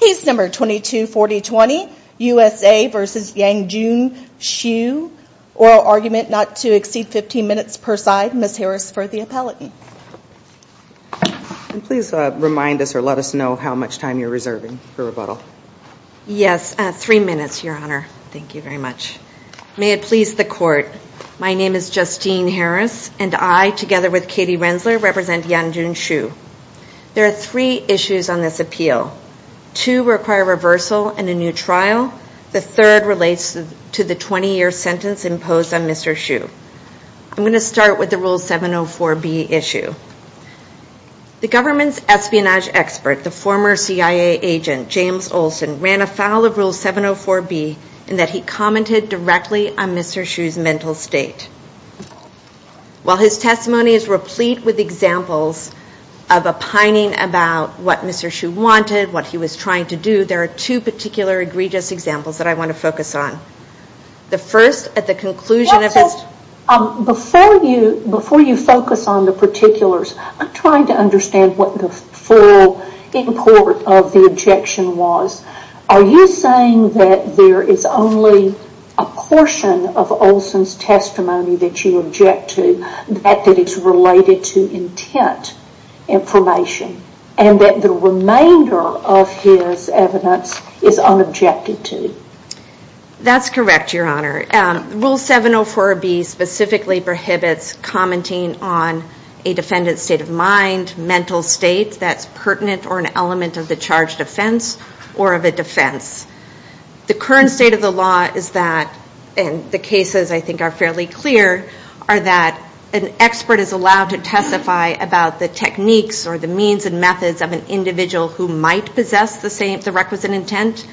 Case number 224020, USA v. Yanjun Xu, oral argument not to exceed 15 minutes per side, Ms. Harris for the appellate. Please remind us or let us know how much time you're reserving for rebuttal. Yes, three minutes, Your Honor. Thank you very much. May it please the court, my name is Justine Harris, and I, together with Katie Rensler, represent Yanjun Xu. There are three issues on this appeal. Two require reversal and a new trial. The third relates to the 20-year sentence imposed on Mr. Xu. I'm going to start with the Rule 704B issue. The government's espionage expert, the former CIA agent James Olsen, ran afoul of Rule 704B in that he commented directly on Mr. Xu's mental state. While his testimony is replete with examples of a pining about what Mr. Xu wanted, what he was trying to do, there are two particular egregious examples that I want to focus on. The first, at the conclusion of his- Before you focus on the particulars, I'm trying to understand what the full import of the objection was. Are you saying that there is only a portion of Olsen's testimony that you object to, that is related to intent information, and that the remainder of his evidence is unobjected to? That's correct, Your Honor. Rule 704B specifically prohibits commenting on a defendant's state of mind, mental state that's pertinent or an element of the charged offense or of a defense. The current state of the law is that, and the cases I think are fairly clear, are that an expert is allowed to testify about the techniques or the means and methods of an individual who might possess the requisite intent,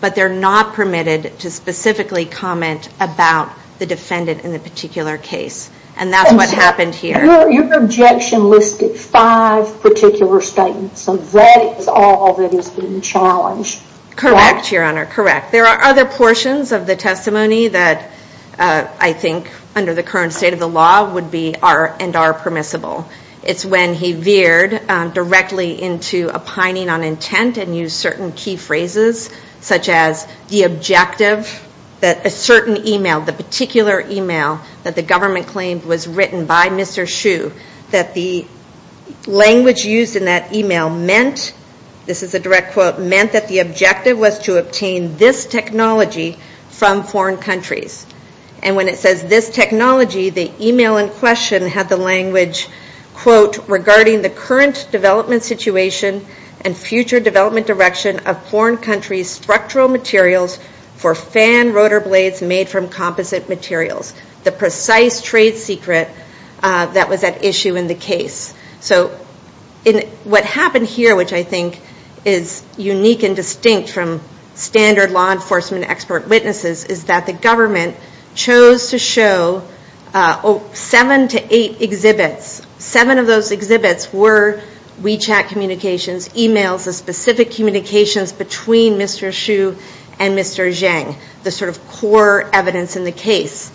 but they're not permitted to specifically comment about the defendant in the particular case. And that's what happened here. Your objection listed five particular statements, and that is all that is being challenged. Correct, Your Honor, correct. There are other portions of the testimony that I think under the current state of the law would be and are permissible. It's when he veered directly into opining on intent and used certain key phrases, such as the objective that a certain email, the particular email that the government claimed was written by Mr. Hsu, that the language used in that email meant, this is a direct quote, meant that the objective was to obtain this technology from foreign countries. And when it says this technology, the email in question had the language, quote, regarding the current development situation and future development direction of foreign countries' structural materials for fan rotor blades made from composite materials, the precise trade secret that was at issue in the case. So what happened here, which I think is unique and distinct from standard law enforcement expert witnesses, is that the government chose to show seven to eight exhibits. Seven of those exhibits were WeChat communications, emails, the specific communications between Mr. Hsu and Mr. Zhang, the sort of core evidence in the case.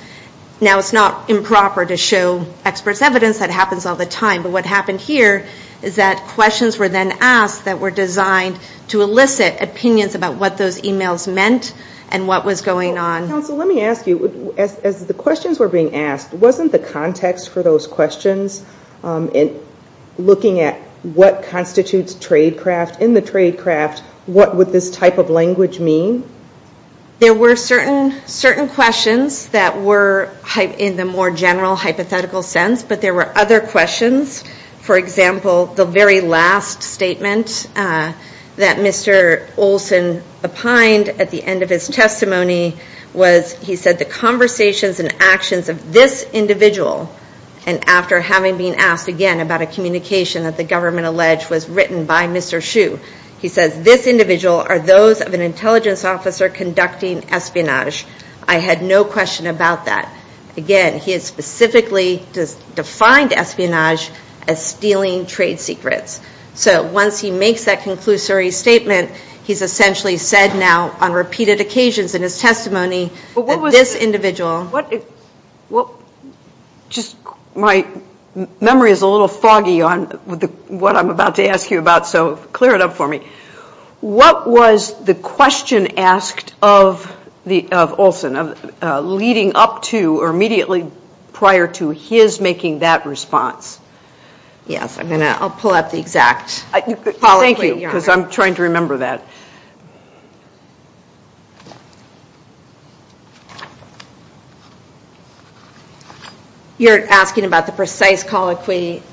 Now, it's not improper to show experts' evidence. That happens all the time. But what happened here is that questions were then asked that were designed to elicit opinions about what those emails meant and what was going on. Council, let me ask you, as the questions were being asked, wasn't the context for those questions in looking at what constitutes tradecraft, in the tradecraft, what would this type of language mean? There were certain questions that were in the more general hypothetical sense, but there were other questions. For example, the very last statement that Mr. Olson opined at the end of his testimony was, he said, the conversations and actions of this individual, and after having been asked again about a communication that the government alleged was written by Mr. Hsu, he says, this individual are those of an intelligence officer conducting espionage. I had no question about that. Again, he had specifically defined espionage as stealing trade secrets. So once he makes that conclusory statement, he's essentially said now on repeated occasions in his testimony that this individual. Just my memory is a little foggy on what I'm about to ask you about, so clear it up for me. What was the question asked of Olson, leading up to or immediately prior to his making that response? Yes, I'm gonna, I'll pull up the exact colloquy. Thank you, because I'm trying to remember that. You're asking about the precise colloquy.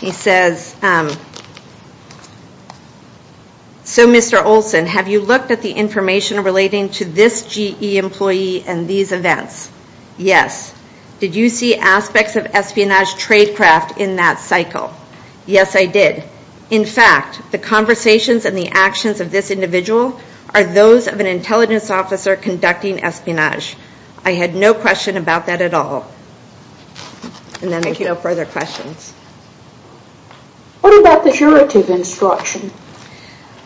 He says, so Mr. Olson, have you looked at the information relating to this GE employee and these events? Yes. Did you see aspects of espionage tradecraft in that cycle? Yes, I did. In fact, the conversations and the actions of this individual are those of an intelligence officer conducting espionage. I had no question about that at all. And then no further questions. What about the curative instruction?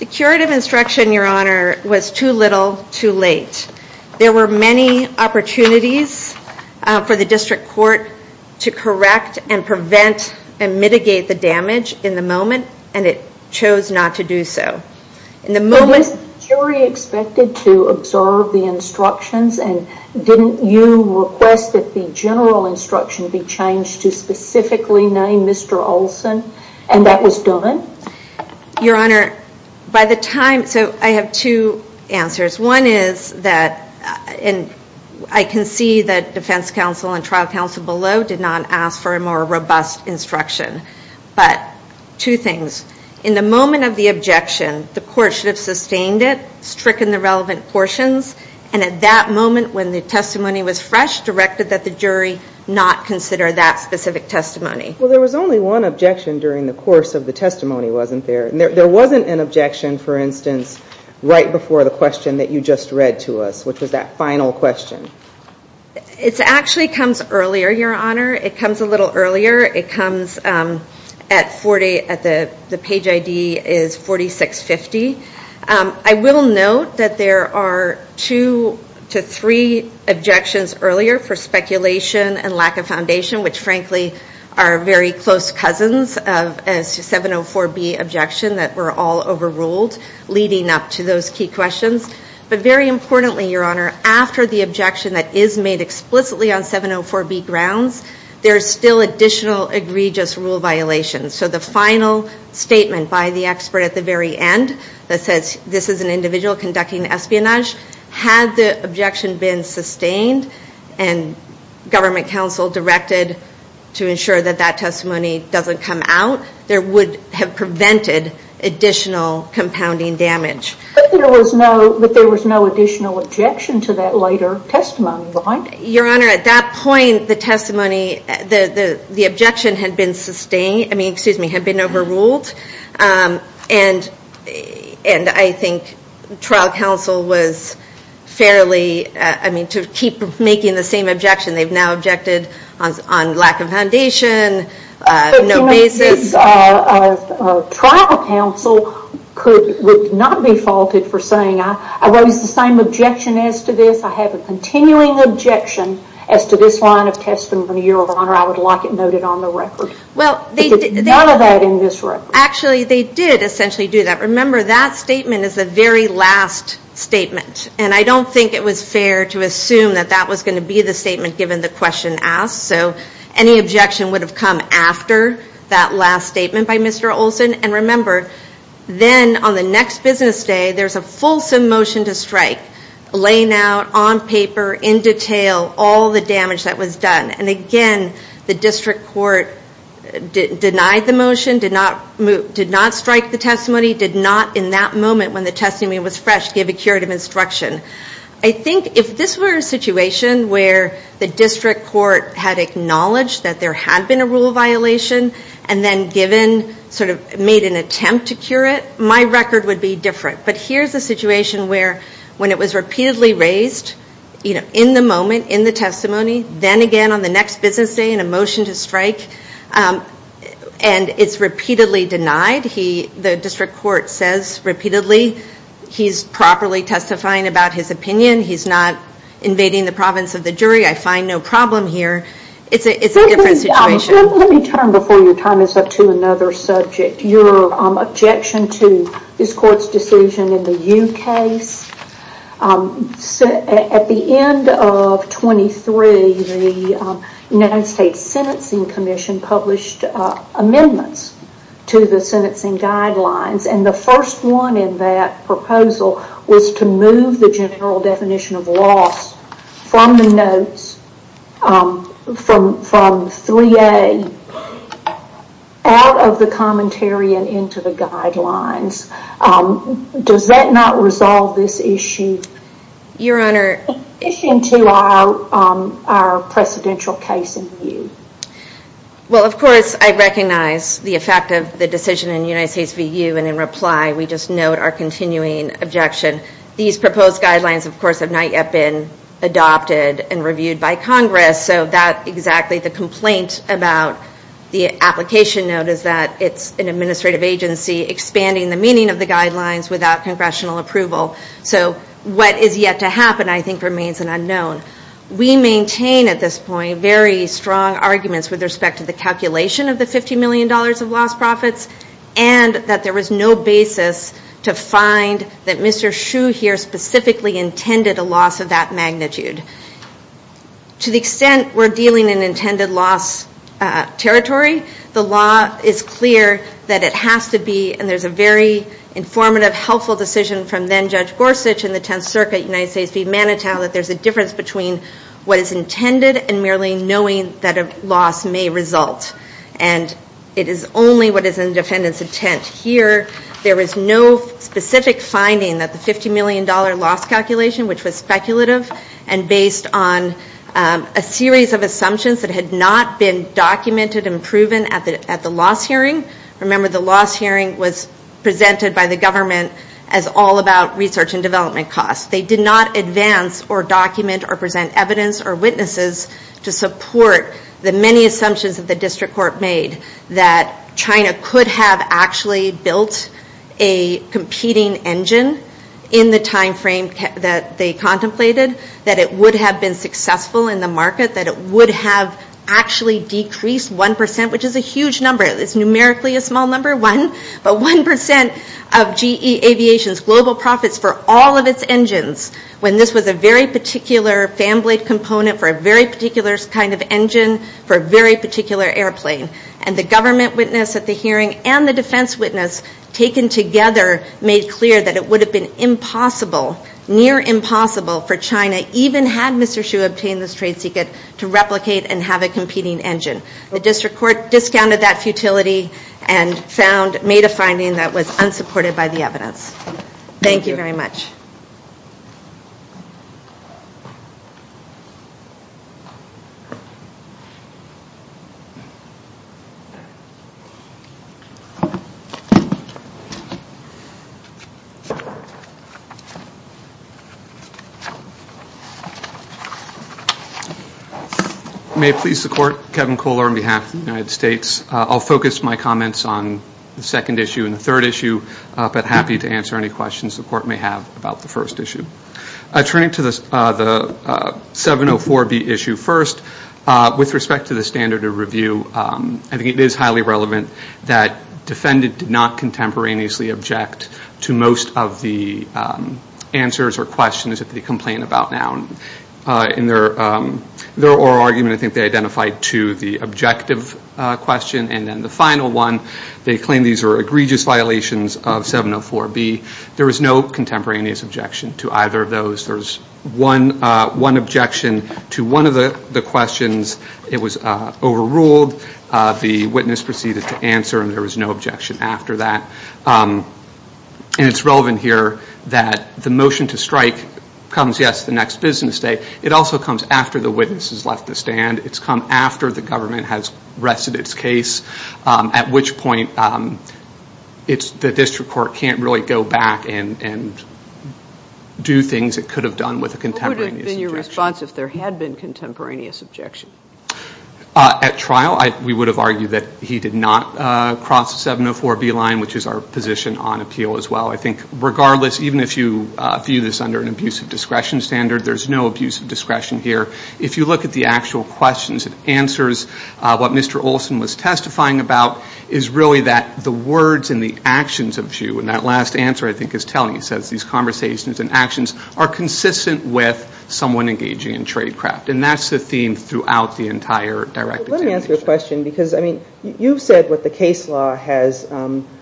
The curative instruction, Your Honor, was too little, too late. There were many opportunities for the district court to correct and prevent and mitigate the damage in the moment, and it chose not to do so. Was the jury expected to observe the instructions, and didn't you request that the general instruction be changed to specifically name Mr. Olson, and that was done? Your Honor, by the time, so I have two answers. One is that, and I can see that defense counsel and trial counsel below did not ask for a more robust instruction, but two things. In the moment of the objection, the court should have sustained it, stricken the relevant portions, and at that moment when the testimony was fresh, directed that the jury not consider that specific testimony. Well, there was only one objection during the course of the testimony, wasn't there? There wasn't an objection, for instance, right before the question that you just read to us, which was that final question. It actually comes earlier, Your Honor. It comes a little earlier. It comes at 40, the page ID is 4650. I will note that there are two to three objections earlier for speculation and lack of foundation, which frankly are very close cousins of a 704B objection that were all overruled leading up to those key questions. But very importantly, Your Honor, after the objection that is made explicitly on 704B grounds, there's still additional egregious rule violations. So the final statement by the expert at the very end that says this is an individual conducting espionage, had the objection been sustained and government counsel directed to ensure that that testimony doesn't come out, there would have prevented additional compounding damage. But there was no additional objection to that later testimony, right? Your Honor, at that point, the testimony, the objection had been sustained, I mean, excuse me, had been overruled. And I think trial counsel was fairly, I mean, to keep making the same objection, they've now objected on lack of foundation, no basis. Trial counsel would not be faulted for saying, I raise the same objection as to this. I have a continuing objection as to this line of testimony, Your Honor, I would like it noted on the record. Well, they did. None of that in this record. Actually, they did essentially do that. Remember, that statement is the very last statement. And I don't think it was fair to assume that that was gonna be the statement given the question asked. So any objection would have come after that last statement by Mr. Olson. And remember, then on the next business day, there's a fulsome motion to strike, laying out on paper, in detail, all the damage that was done. And again, the district court denied the motion, did not strike the testimony, did not, in that moment when the testimony was fresh, give a curative instruction. I think if this were a situation where the district court had acknowledged that there had been a rule violation, and then given, sort of made an attempt to cure it, my record would be different. But here's a situation where, when it was repeatedly raised, in the moment, in the testimony, then again on the next business day, in a motion to strike, and it's repeatedly denied, the district court says repeatedly, he's properly testifying about his opinion, he's not invading the province of the jury, I find no problem here. It's a different situation. Let me turn before your time is up to another subject. Your objection to this court's decision in the U case. At the end of 23, the United States Sentencing Commission published amendments to the sentencing guidelines, and the first one in that proposal was to move the general definition of loss from the notes, from 3A, and out of the commentary and into the guidelines. Does that not resolve this issue? Your Honor. Issuing to our presidential case in view. Well, of course, I recognize the effect of the decision in United States VU, and in reply, we just note our continuing objection. These proposed guidelines, of course, have not yet been adopted and reviewed by Congress, so that exactly the complaint about the application note is that it's an administrative agency expanding the meaning of the guidelines without congressional approval. So what is yet to happen, I think, remains an unknown. We maintain at this point very strong arguments with respect to the calculation of the $50 million of lost profits, and that there was no basis to find that Mr. Hsu here specifically intended a loss of that magnitude. To the extent we're dealing in intended loss territory, the law is clear that it has to be, and there's a very informative, helpful decision from then Judge Gorsuch in the 10th Circuit, United States v. Manitow, that there's a difference between what is intended and merely knowing that a loss may result. And it is only what is in the defendant's intent. Here, there is no specific finding that the $50 million loss calculation, which was speculative and based on a series of assumptions that had not been documented and proven at the loss hearing. Remember, the loss hearing was presented by the government as all about research and development costs. They did not advance or document or present evidence or witnesses to support the many assumptions that the district court made that China could have actually built a competing engine in the timeframe that they contemplated, that it would have been successful in the market, that it would have actually decreased 1%, which is a huge number. It's numerically a small number, one, but 1% of GE Aviation's global profits for all of its engines, when this was a very particular fan blade component for a very particular kind of engine for a very particular airplane. And the government witness at the hearing and the defense witness taken together made clear that it would have been impossible, near impossible for China, even had Mr. Xu obtained this trade secret to replicate and have a competing engine. The district court discounted that futility and made a finding that was unsupported by the evidence. Thank you very much. May it please the court, Kevin Kohler on behalf of the United States. I'll focus my comments on the second issue and the third issue, but happy to answer any questions the court may have about the first issue. Turning to the 704B issue first, with respect to the standard of review, I think it is highly relevant that defendant did not contemporaneously object to most of the answers or questions that they complain about now. In their oral argument, I think they identified to the objective question and then the final one, they claim these are egregious violations of 704B. There was no contemporaneous objection to either of those. There's one objection to one of the questions. It was overruled. The witness proceeded to answer and there was no objection after that. And it's relevant here that the motion to strike comes, yes, the next business day. It also comes after the witness has left the stand. It's come after the government has rested its case, at which point the district court can't really go back and do things it could have done with a contemporaneous objection. What would have been your response if there had been contemporaneous objection? At trial, we would have argued that he did not cross the 704B line, which is our position on appeal as well. I think regardless, even if you view this under an abusive discretion standard, there's no abusive discretion here. If you look at the actual questions and answers, what Mr. Olson was testifying about is really that the words and the actions of you, and that last answer, I think, is telling. It says these conversations and actions are consistent with someone engaging in tradecraft. And that's the theme throughout the entire directive. Let me ask you a question because, I mean, you've said what the case law has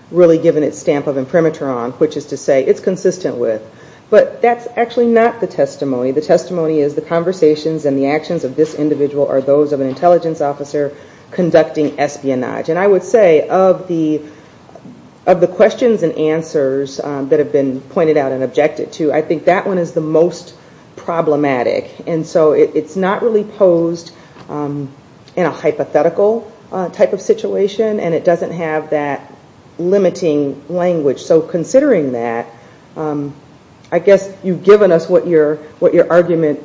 really given its stamp of imprimatur on, which is to say it's consistent with. But that's actually not the testimony. The testimony is the conversations and the actions of this individual are those of an intelligence officer conducting espionage. And I would say of the questions and answers that have been pointed out and objected to, I think that one is the most problematic. And so it's not really posed in a hypothetical type of situation. And it doesn't have that limiting language. So considering that, I guess you've given us what your argument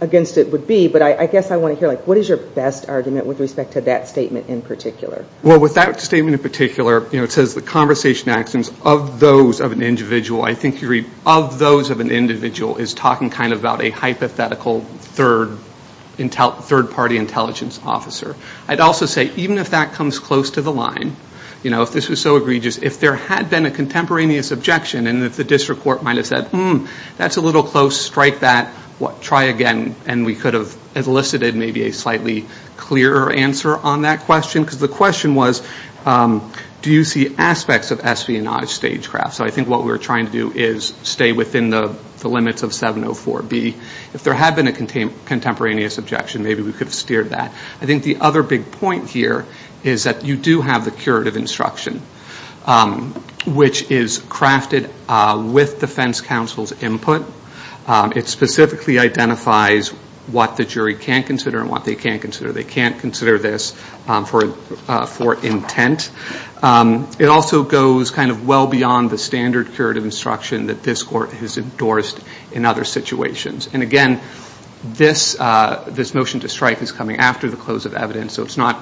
against it would be. But I guess I wanna hear, like, what is your best argument with respect to that statement in particular? Well, with that statement in particular, it says the conversation actions of those of an individual. I think you read of those of an individual is talking kind of about a hypothetical third-party intelligence officer. I'd also say, even if that comes close to the line, you know, if this was so egregious, if there had been a contemporaneous objection and if the district court might have said, hmm, that's a little close, strike that, try again, and we could have elicited maybe a slightly clearer answer on that question, because the question was, do you see aspects of espionage stagecraft? So I think what we're trying to do is stay within the limits of 704B. If there had been a contemporaneous objection, maybe we could have steered that. I think the other big point here is that you do have the curative instruction, which is crafted with defense counsel's input. It specifically identifies what the jury can consider and what they can't consider. They can't consider this for intent. It also goes kind of well beyond the standard curative instruction that this court has endorsed in other situations. And again, this motion to strike is coming after the close of evidence, so it's not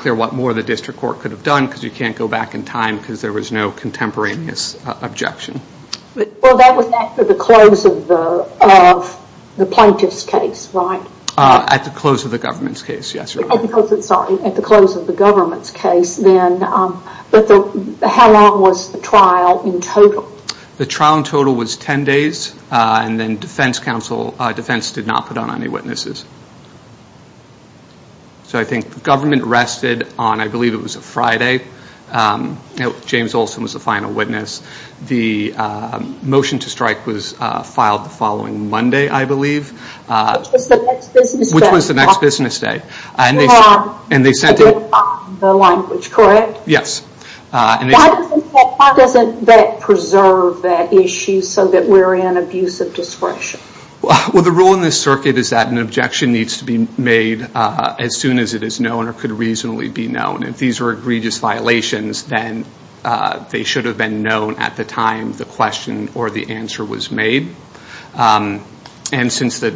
clear what more the district court could have done, because you can't go back in time because there was no contemporaneous objection. Well, that was after the close of the plaintiff's case, right? At the close of the government's case, yes. Sorry, at the close of the government's case, then, but how long was the trial in total? The trial in total was 10 days, and then defense counsel, defense did not put on any witnesses. So I think the government rested on, I believe it was a Friday. James Olson was the final witness. The motion to strike was filed the following Monday, I believe. Which was the next business day. Which was the next business day. And they sent in- The language, correct? Yes. Why doesn't that preserve that issue so that we're in abuse of discretion? Well, the rule in this circuit is that an objection needs to be made as soon as it is known or could reasonably be known. If these were egregious violations, then they should have been known at the time the question or the answer was made. And since the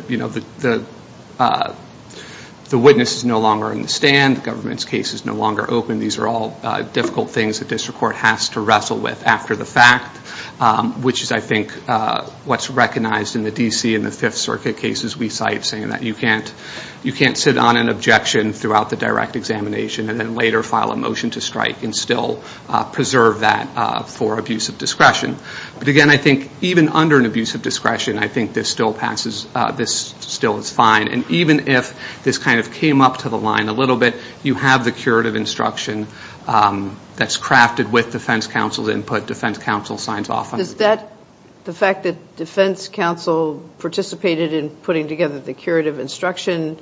witness is no longer in the stand, government's case is no longer open, these are all difficult things the district court has to wrestle with after the fact. Which is, I think, what's recognized in the D.C. in the Fifth Circuit cases we cite, saying that you can't sit on an objection throughout the direct examination and then later file a motion to strike and still preserve that for abuse of discretion. But again, I think even under an abuse of discretion, I think this still passes, this still is fine. And even if this kind of came up to the line a little bit, you have the curative instruction that's crafted with defense counsel's input. Defense counsel signs off on it. Does that, the fact that defense counsel participated in putting together the curative instruction,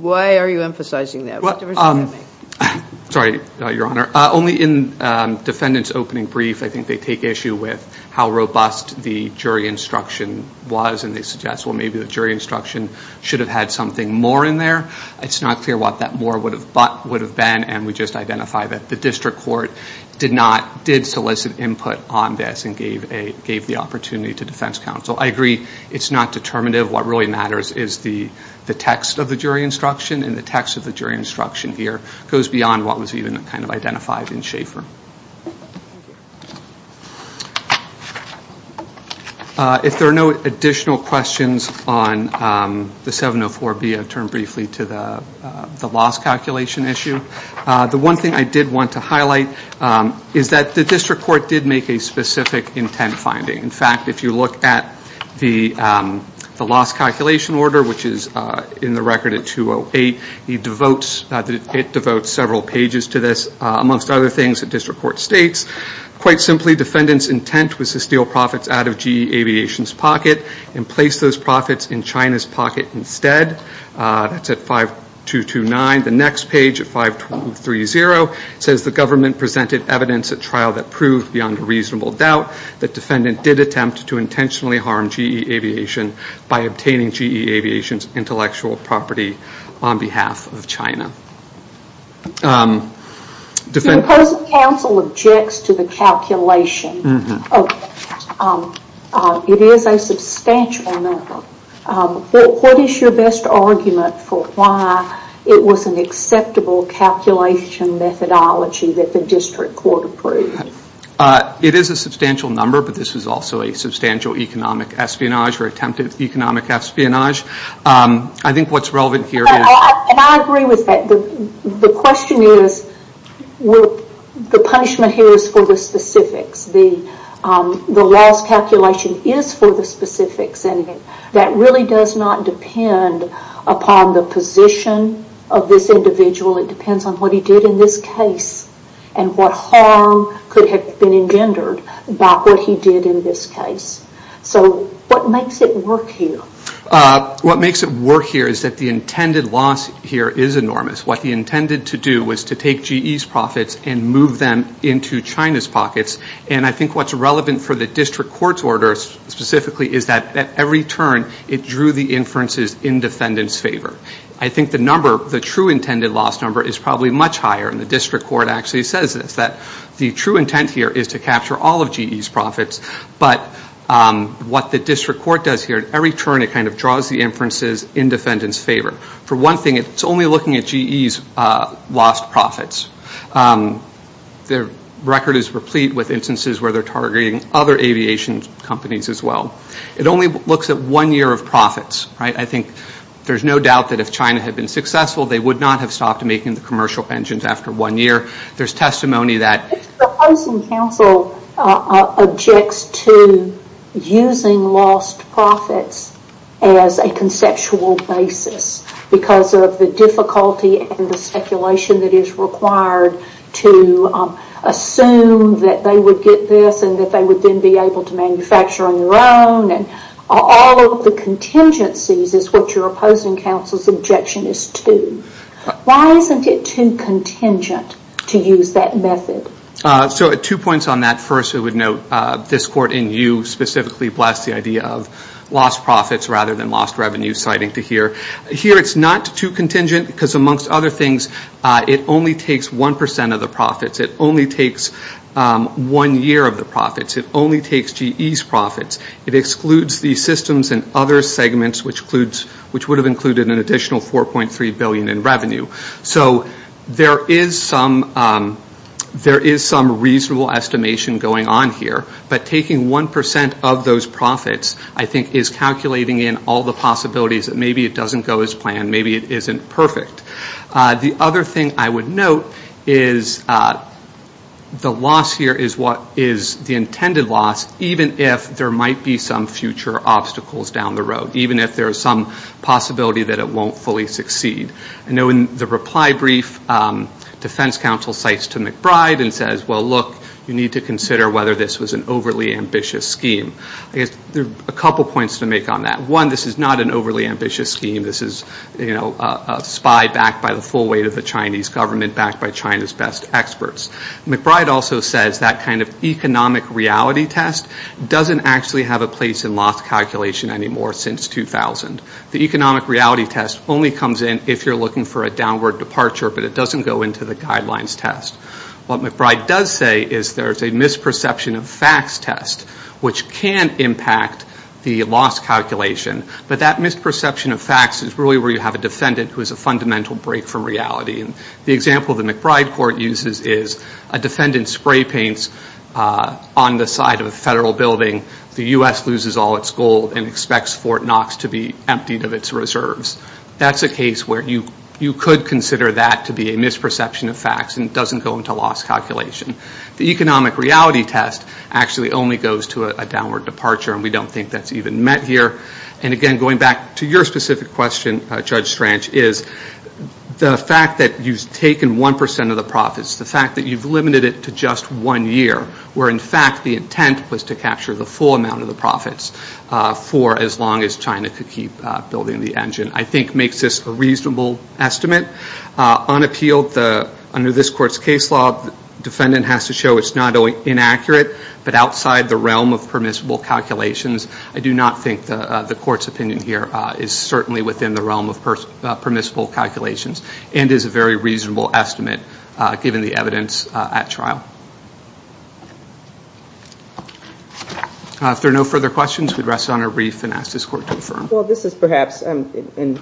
why are you emphasizing that? What difference does that make? Sorry, Your Honor. Only in defendant's opening brief, I think they take issue with how robust the jury instruction was and they suggest, well, maybe the jury instruction should have had something more in there. It's not clear what that more would have been and we just identify that the district court did not, did solicit input on this and gave the opportunity to defense counsel. I agree, it's not determinative. What really matters is the text of the jury instruction and the text of the jury instruction here goes beyond what was even kind of identified in Schaefer. If there are no additional questions on the 704B, I'll turn briefly to the loss calculation issue. The one thing I did want to highlight is that the district court did make a specific intent finding. In fact, if you look at the loss calculation order, which is in the record at 208, he devotes, it devotes several pages to this. Amongst other things, the district court states quite simply defendant's intent was to steal profits out of GE Aviation's pocket and place those profits in China's pocket instead. That's at 5229. The next page at 52030 says the government presented evidence at trial that proved beyond a reasonable doubt that defendant did attempt to intentionally harm GE Aviation by obtaining GE Aviation's intellectual property on behalf of China. The opposing counsel objects to the calculation. It is a substantial number. What is your best argument for why it was an acceptable calculation methodology that the district court approved? It is a substantial number, but this is also a substantial economic espionage or attempted economic espionage. I think what's relevant here is. And I agree with that. The question is, the punishment here is for the specifics. The loss calculation is for the specifics. And that really does not depend upon the position of this individual. It depends on what he did in this case and what harm could have been engendered by what he did in this case. So what makes it work here? What makes it work here is that the intended loss here is enormous. What he intended to do was to take GE's profits and move them into China's pockets. And I think what's relevant for the district court's order specifically is that at every turn it drew the inferences in defendant's favor. I think the number, the true intended loss number is probably much higher. And the district court actually says this, that the true intent here is to capture all of GE's profits. But what the district court does here, at every turn it kind of draws the inferences in defendant's favor. For one thing, it's only looking at GE's lost profits. Their record is replete with instances where they're targeting other aviation companies as well. It only looks at one year of profits, right? I think there's no doubt that if China had been successful they would not have stopped making the commercial engines after one year. There's testimony that- The opposing counsel objects to using lost profits as a conceptual basis because of the difficulty and the speculation that is required to assume that they would get this and that they would then be able to manufacture on their own and all of the contingencies is what your opposing counsel's objection is to. Why isn't it too contingent to use that method? So two points on that. First, I would note this court in you specifically blessed the idea of lost profits rather than lost revenue citing to here. Here it's not too contingent because amongst other things, it only takes 1% of the profits. It only takes one year of the profits. It only takes GE's profits. It excludes the systems and other segments which would have included an additional 4.3 billion in revenue. So there is some reasonable estimation going on here, but taking 1% of those profits I think is calculating in all the possibilities that maybe it doesn't go as planned. Maybe it isn't perfect. The other thing I would note is the loss here is what is the intended loss even if there might be some future obstacles down the road, even if there is some possibility that it won't fully succeed. I know in the reply brief, defense counsel cites to McBride and says, well, look, you need to consider whether this was an overly ambitious scheme. I guess there are a couple points to make on that. One, this is not an overly ambitious scheme. This is a spy backed by the full weight of the Chinese government backed by China's best experts. McBride also says that kind of economic reality test doesn't actually have a place in loss calculation anymore since 2000. The economic reality test only comes in if you're looking for a downward departure, but it doesn't go into the guidelines test. What McBride does say is there's a misperception of facts test, which can impact the loss calculation, but that misperception of facts is really where you have a defendant who is a fundamental break from reality. And the example of the McBride court uses is a defendant spray paints on the side of a federal building. The U.S. loses all its gold and expects Fort Knox to be emptied of its reserves. That's a case where you could consider that to be a misperception of facts and it doesn't go into loss calculation. The economic reality test actually only goes to a downward departure and we don't think that's even met here. And again, going back to your specific question, Judge Strange, is the fact that you've taken 1% of the profits, the fact that you've limited it to just one year, where in fact the intent was to capture the full amount of the profits for as long as China could keep building the engine, I think makes this a reasonable estimate. Unappealed, under this court's case law, defendant has to show it's not only inaccurate, but outside the realm of permissible calculations. I do not think the court's opinion here is certainly within the realm of permissible calculations and is a very reasonable estimate given the evidence at trial. If there are no further questions, we'd rest it on a brief and ask this court to affirm. Well, this is perhaps, and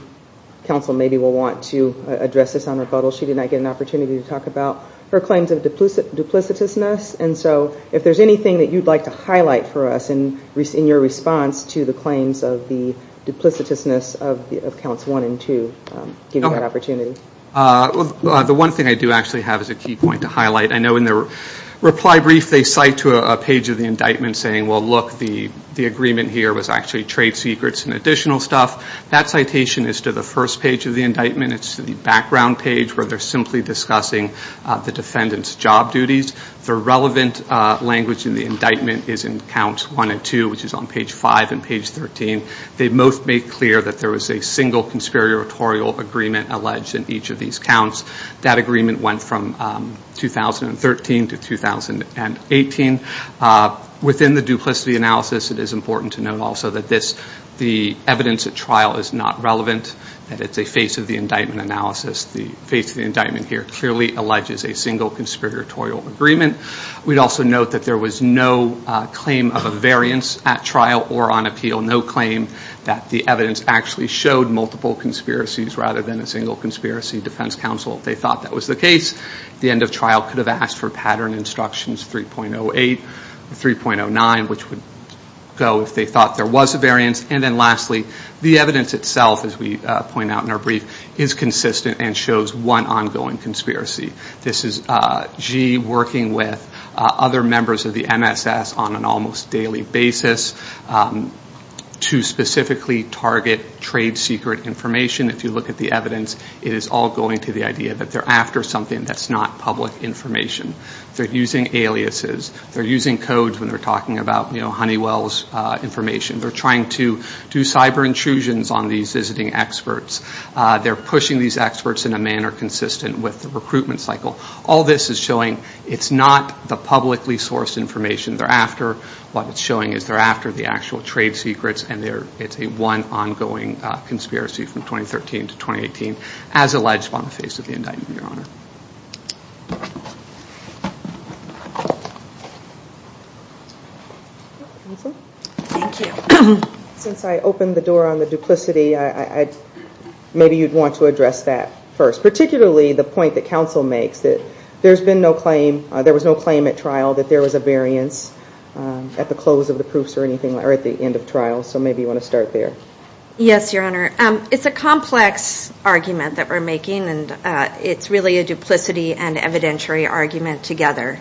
counsel maybe will want to address this on rebuttal, she did not get an opportunity to talk about her claims of duplicitousness, and so if there's anything that you'd like to highlight for us in your response to the claims of the duplicitousness of counts one and two, give me that opportunity. The one thing I do actually have is a key point to highlight. I know in their reply brief, they cite to a page of the indictment saying, well, look, the agreement here was actually trade secrets and additional stuff. That citation is to the first page of the indictment. It's the background page where they're simply discussing the defendant's job duties. The relevant language in the indictment is in counts one and two, which is on page five and page 13. They both make clear that there was a single conspiratorial agreement alleged in each of these counts. That agreement went from 2013 to 2018. Within the duplicity analysis, it is important to note also that this, the evidence at trial is not relevant, that it's a face of the indictment analysis. The face of the indictment here clearly alleges a single conspiratorial agreement. We'd also note that there was no claim of a variance at trial or on appeal, no claim that the evidence actually showed multiple conspiracies rather than a single conspiracy defense counsel. They thought that was the case. The end of trial could have asked for pattern instructions 3.08 or 3.09, which would go if they thought there was a variance. And then lastly, the evidence itself, as we point out in our brief, is consistent and shows one ongoing conspiracy. This is Gee working with other members of the MSS on an almost daily basis to specifically target trade secret information. If you look at the evidence, it is all going to the idea that they're after something that's not public information. They're using aliases, they're using codes when they're talking about Honeywell's information. They're trying to do cyber intrusions on these visiting experts. They're pushing these experts in a manner consistent with the recruitment cycle. All this is showing it's not the publicly sourced information they're after. What it's showing is they're after the actual trade secrets and it's a one ongoing conspiracy from 2013 to 2018, as alleged on the face of the indictment, Your Honor. Thank you. Since I opened the door on the duplicity, maybe you'd want to address that first, particularly the point that counsel makes that there's been no claim, there was no claim at trial that there was a variance at the close of the proofs or anything, or at the end of trial. So maybe you want to start there. Yes, Your Honor. It's a complex argument that we're making and it's really a duplicity and evidentiary argument together.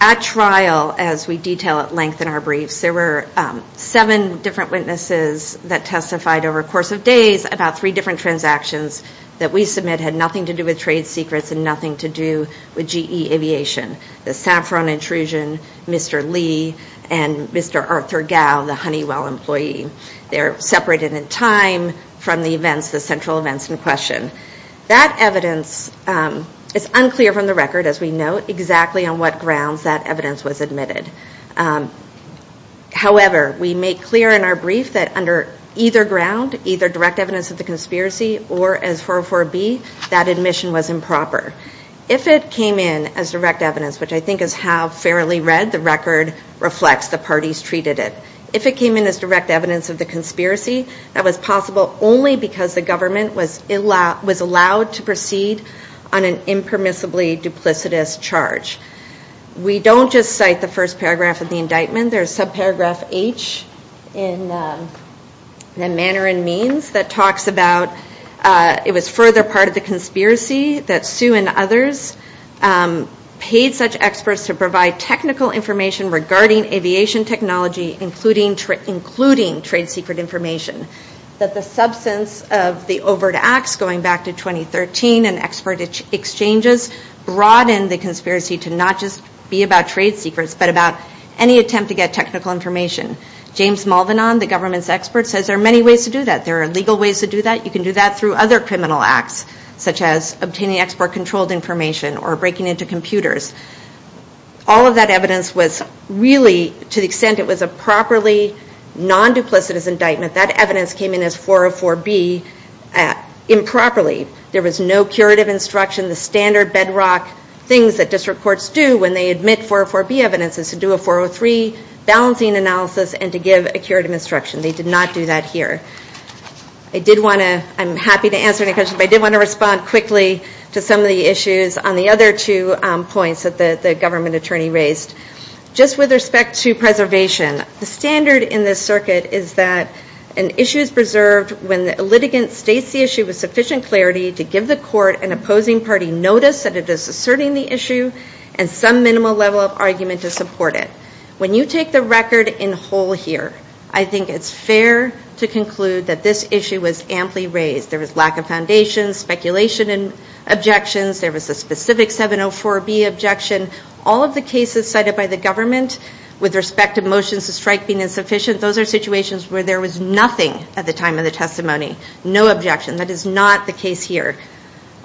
At trial, as we detail at length in our briefs, there were seven different witnesses that testified over a course of days about three different transactions that we submit had nothing to do with trade secrets and nothing to do with GE Aviation. The Saffron intrusion, Mr. Lee, and Mr. Arthur Gao, the Honeywell employee. They're separated in time from the events, the central events in question. That evidence is unclear from the record, as we note exactly on what grounds that evidence was admitted. However, we make clear in our brief that under either ground, either direct evidence of the conspiracy or as 404B, that admission was improper. If it came in as direct evidence, which I think is how fairly read the record reflects the parties treated it. If it came in as direct evidence of the conspiracy, that was possible only because the government was allowed to proceed on an impermissibly duplicitous charge. We don't just cite the first paragraph of the indictment. There's subparagraph H in the manner and means that talks about it was further part of the conspiracy that Sue and others paid such experts to provide technical information regarding aviation technology, including trade secret information. That the substance of the overt acts going back to 2013 and expert exchanges broadened the conspiracy to not just be about trade secrets, but about any attempt to get technical information. James Malvin on the government's experts says there are many ways to do that. There are legal ways to do that. You can do that through other criminal acts, such as obtaining export controlled information or breaking into computers. All of that evidence was really to the extent it was a properly non-duplicitous indictment. That evidence came in as 404B improperly. There was no curative instruction. The standard bedrock things that district courts do when they admit 404B evidence is to do a 403 balancing analysis and to give a curative instruction. They did not do that here. I did wanna, I'm happy to answer any questions, but I did wanna respond quickly to some of the issues on the other two points that the government attorney raised. Just with respect to preservation, the standard in this circuit is that an issue is preserved when the litigant states the issue with sufficient clarity to give the court an opposing party notice that it is asserting the issue and some minimal level of argument to support it. When you take the record in whole here, I think it's fair to conclude that this issue was amply raised. There was lack of foundation, speculation and objections. There was a specific 704B objection. All of the cases cited by the government with respect to motions to strike being insufficient, those are situations where there was nothing at the time of the testimony, no objection. That is not the case here.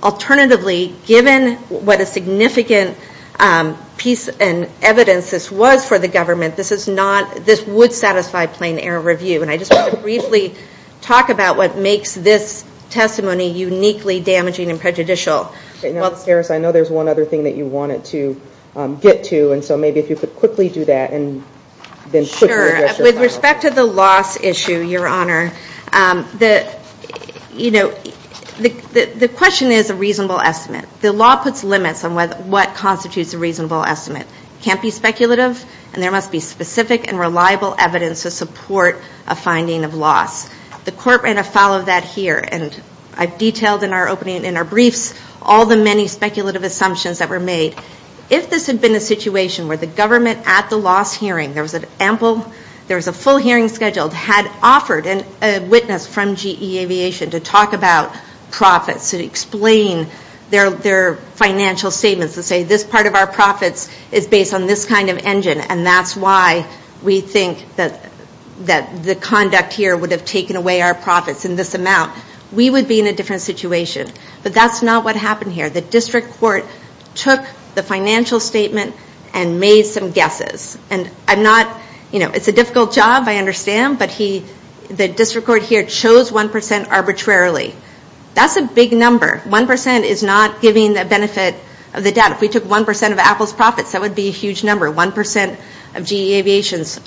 Alternatively, given what a significant piece and evidence this was for the government, this is not, this would satisfy plain error review. And I just wanna briefly talk about what makes this testimony uniquely damaging and prejudicial. Harris, I know there's one other thing that you wanted to get to. And so maybe if you could quickly do that and then quickly address your final question. Sure, with respect to the loss issue, Your Honor, the question is a reasonable estimate. The law puts limits on what constitutes a reasonable estimate. Can't be speculative and there must be specific and reliable evidence to support a finding of loss. The court ran a file of that here and I've detailed in our opening and in our briefs all the many speculative assumptions that were made. If this had been a situation where the government at the loss hearing, there was an ample, there was a full hearing scheduled, had offered a witness from GE Aviation to talk about profits, to explain their financial statements, to say this part of our profits is based on this kind of engine and that's why we think that the conduct here would have taken away our profits in this amount. We would be in a different situation. But that's not what happened here. The district court took the financial statement and made some guesses. And I'm not, it's a difficult job, I understand, but the district court here chose 1% arbitrarily. That's a big number. 1% is not giving the benefit of the doubt. If we took 1% of Apple's profits, that would be a huge number, 1% of GE Aviation's.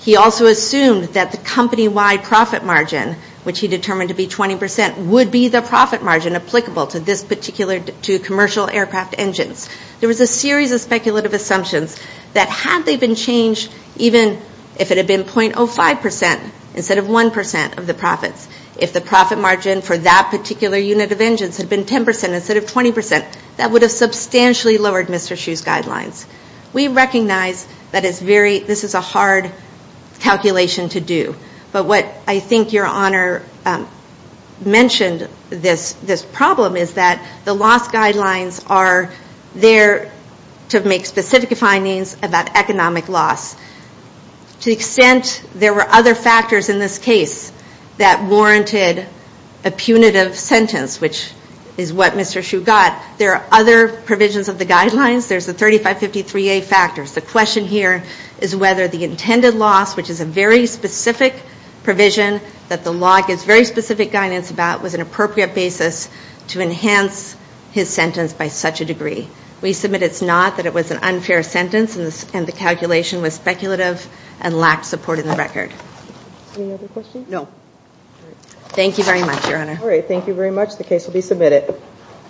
He also assumed that the company-wide profit margin, which he determined to be 20%, would be the profit margin applicable to this particular, to commercial aircraft engines. There was a series of speculative assumptions that had they been changed, even if it had been 0.05% instead of 1% of the profits, if the profit margin for that particular unit of engines had been 10% instead of 20%, that would have substantially lowered Mr. Hsu's guidelines. We recognize that it's very, this is a hard calculation to do. But what I think your honor mentioned this problem is that the loss guidelines are there to make specific findings about economic loss. To the extent there were other factors in this case that warranted a punitive sentence, which is what Mr. Hsu got, there are other provisions of the guidelines. There's the 3553A factors. The question here is whether the intended loss, which is a very specific provision that the law gives very specific guidance about was an appropriate basis to enhance his sentence by such a degree. We submit it's not, that it was an unfair sentence and the calculation was speculative and lacked support in the record. Any other questions? No. Thank you very much, your honor. All right, thank you very much. The case will be submitted.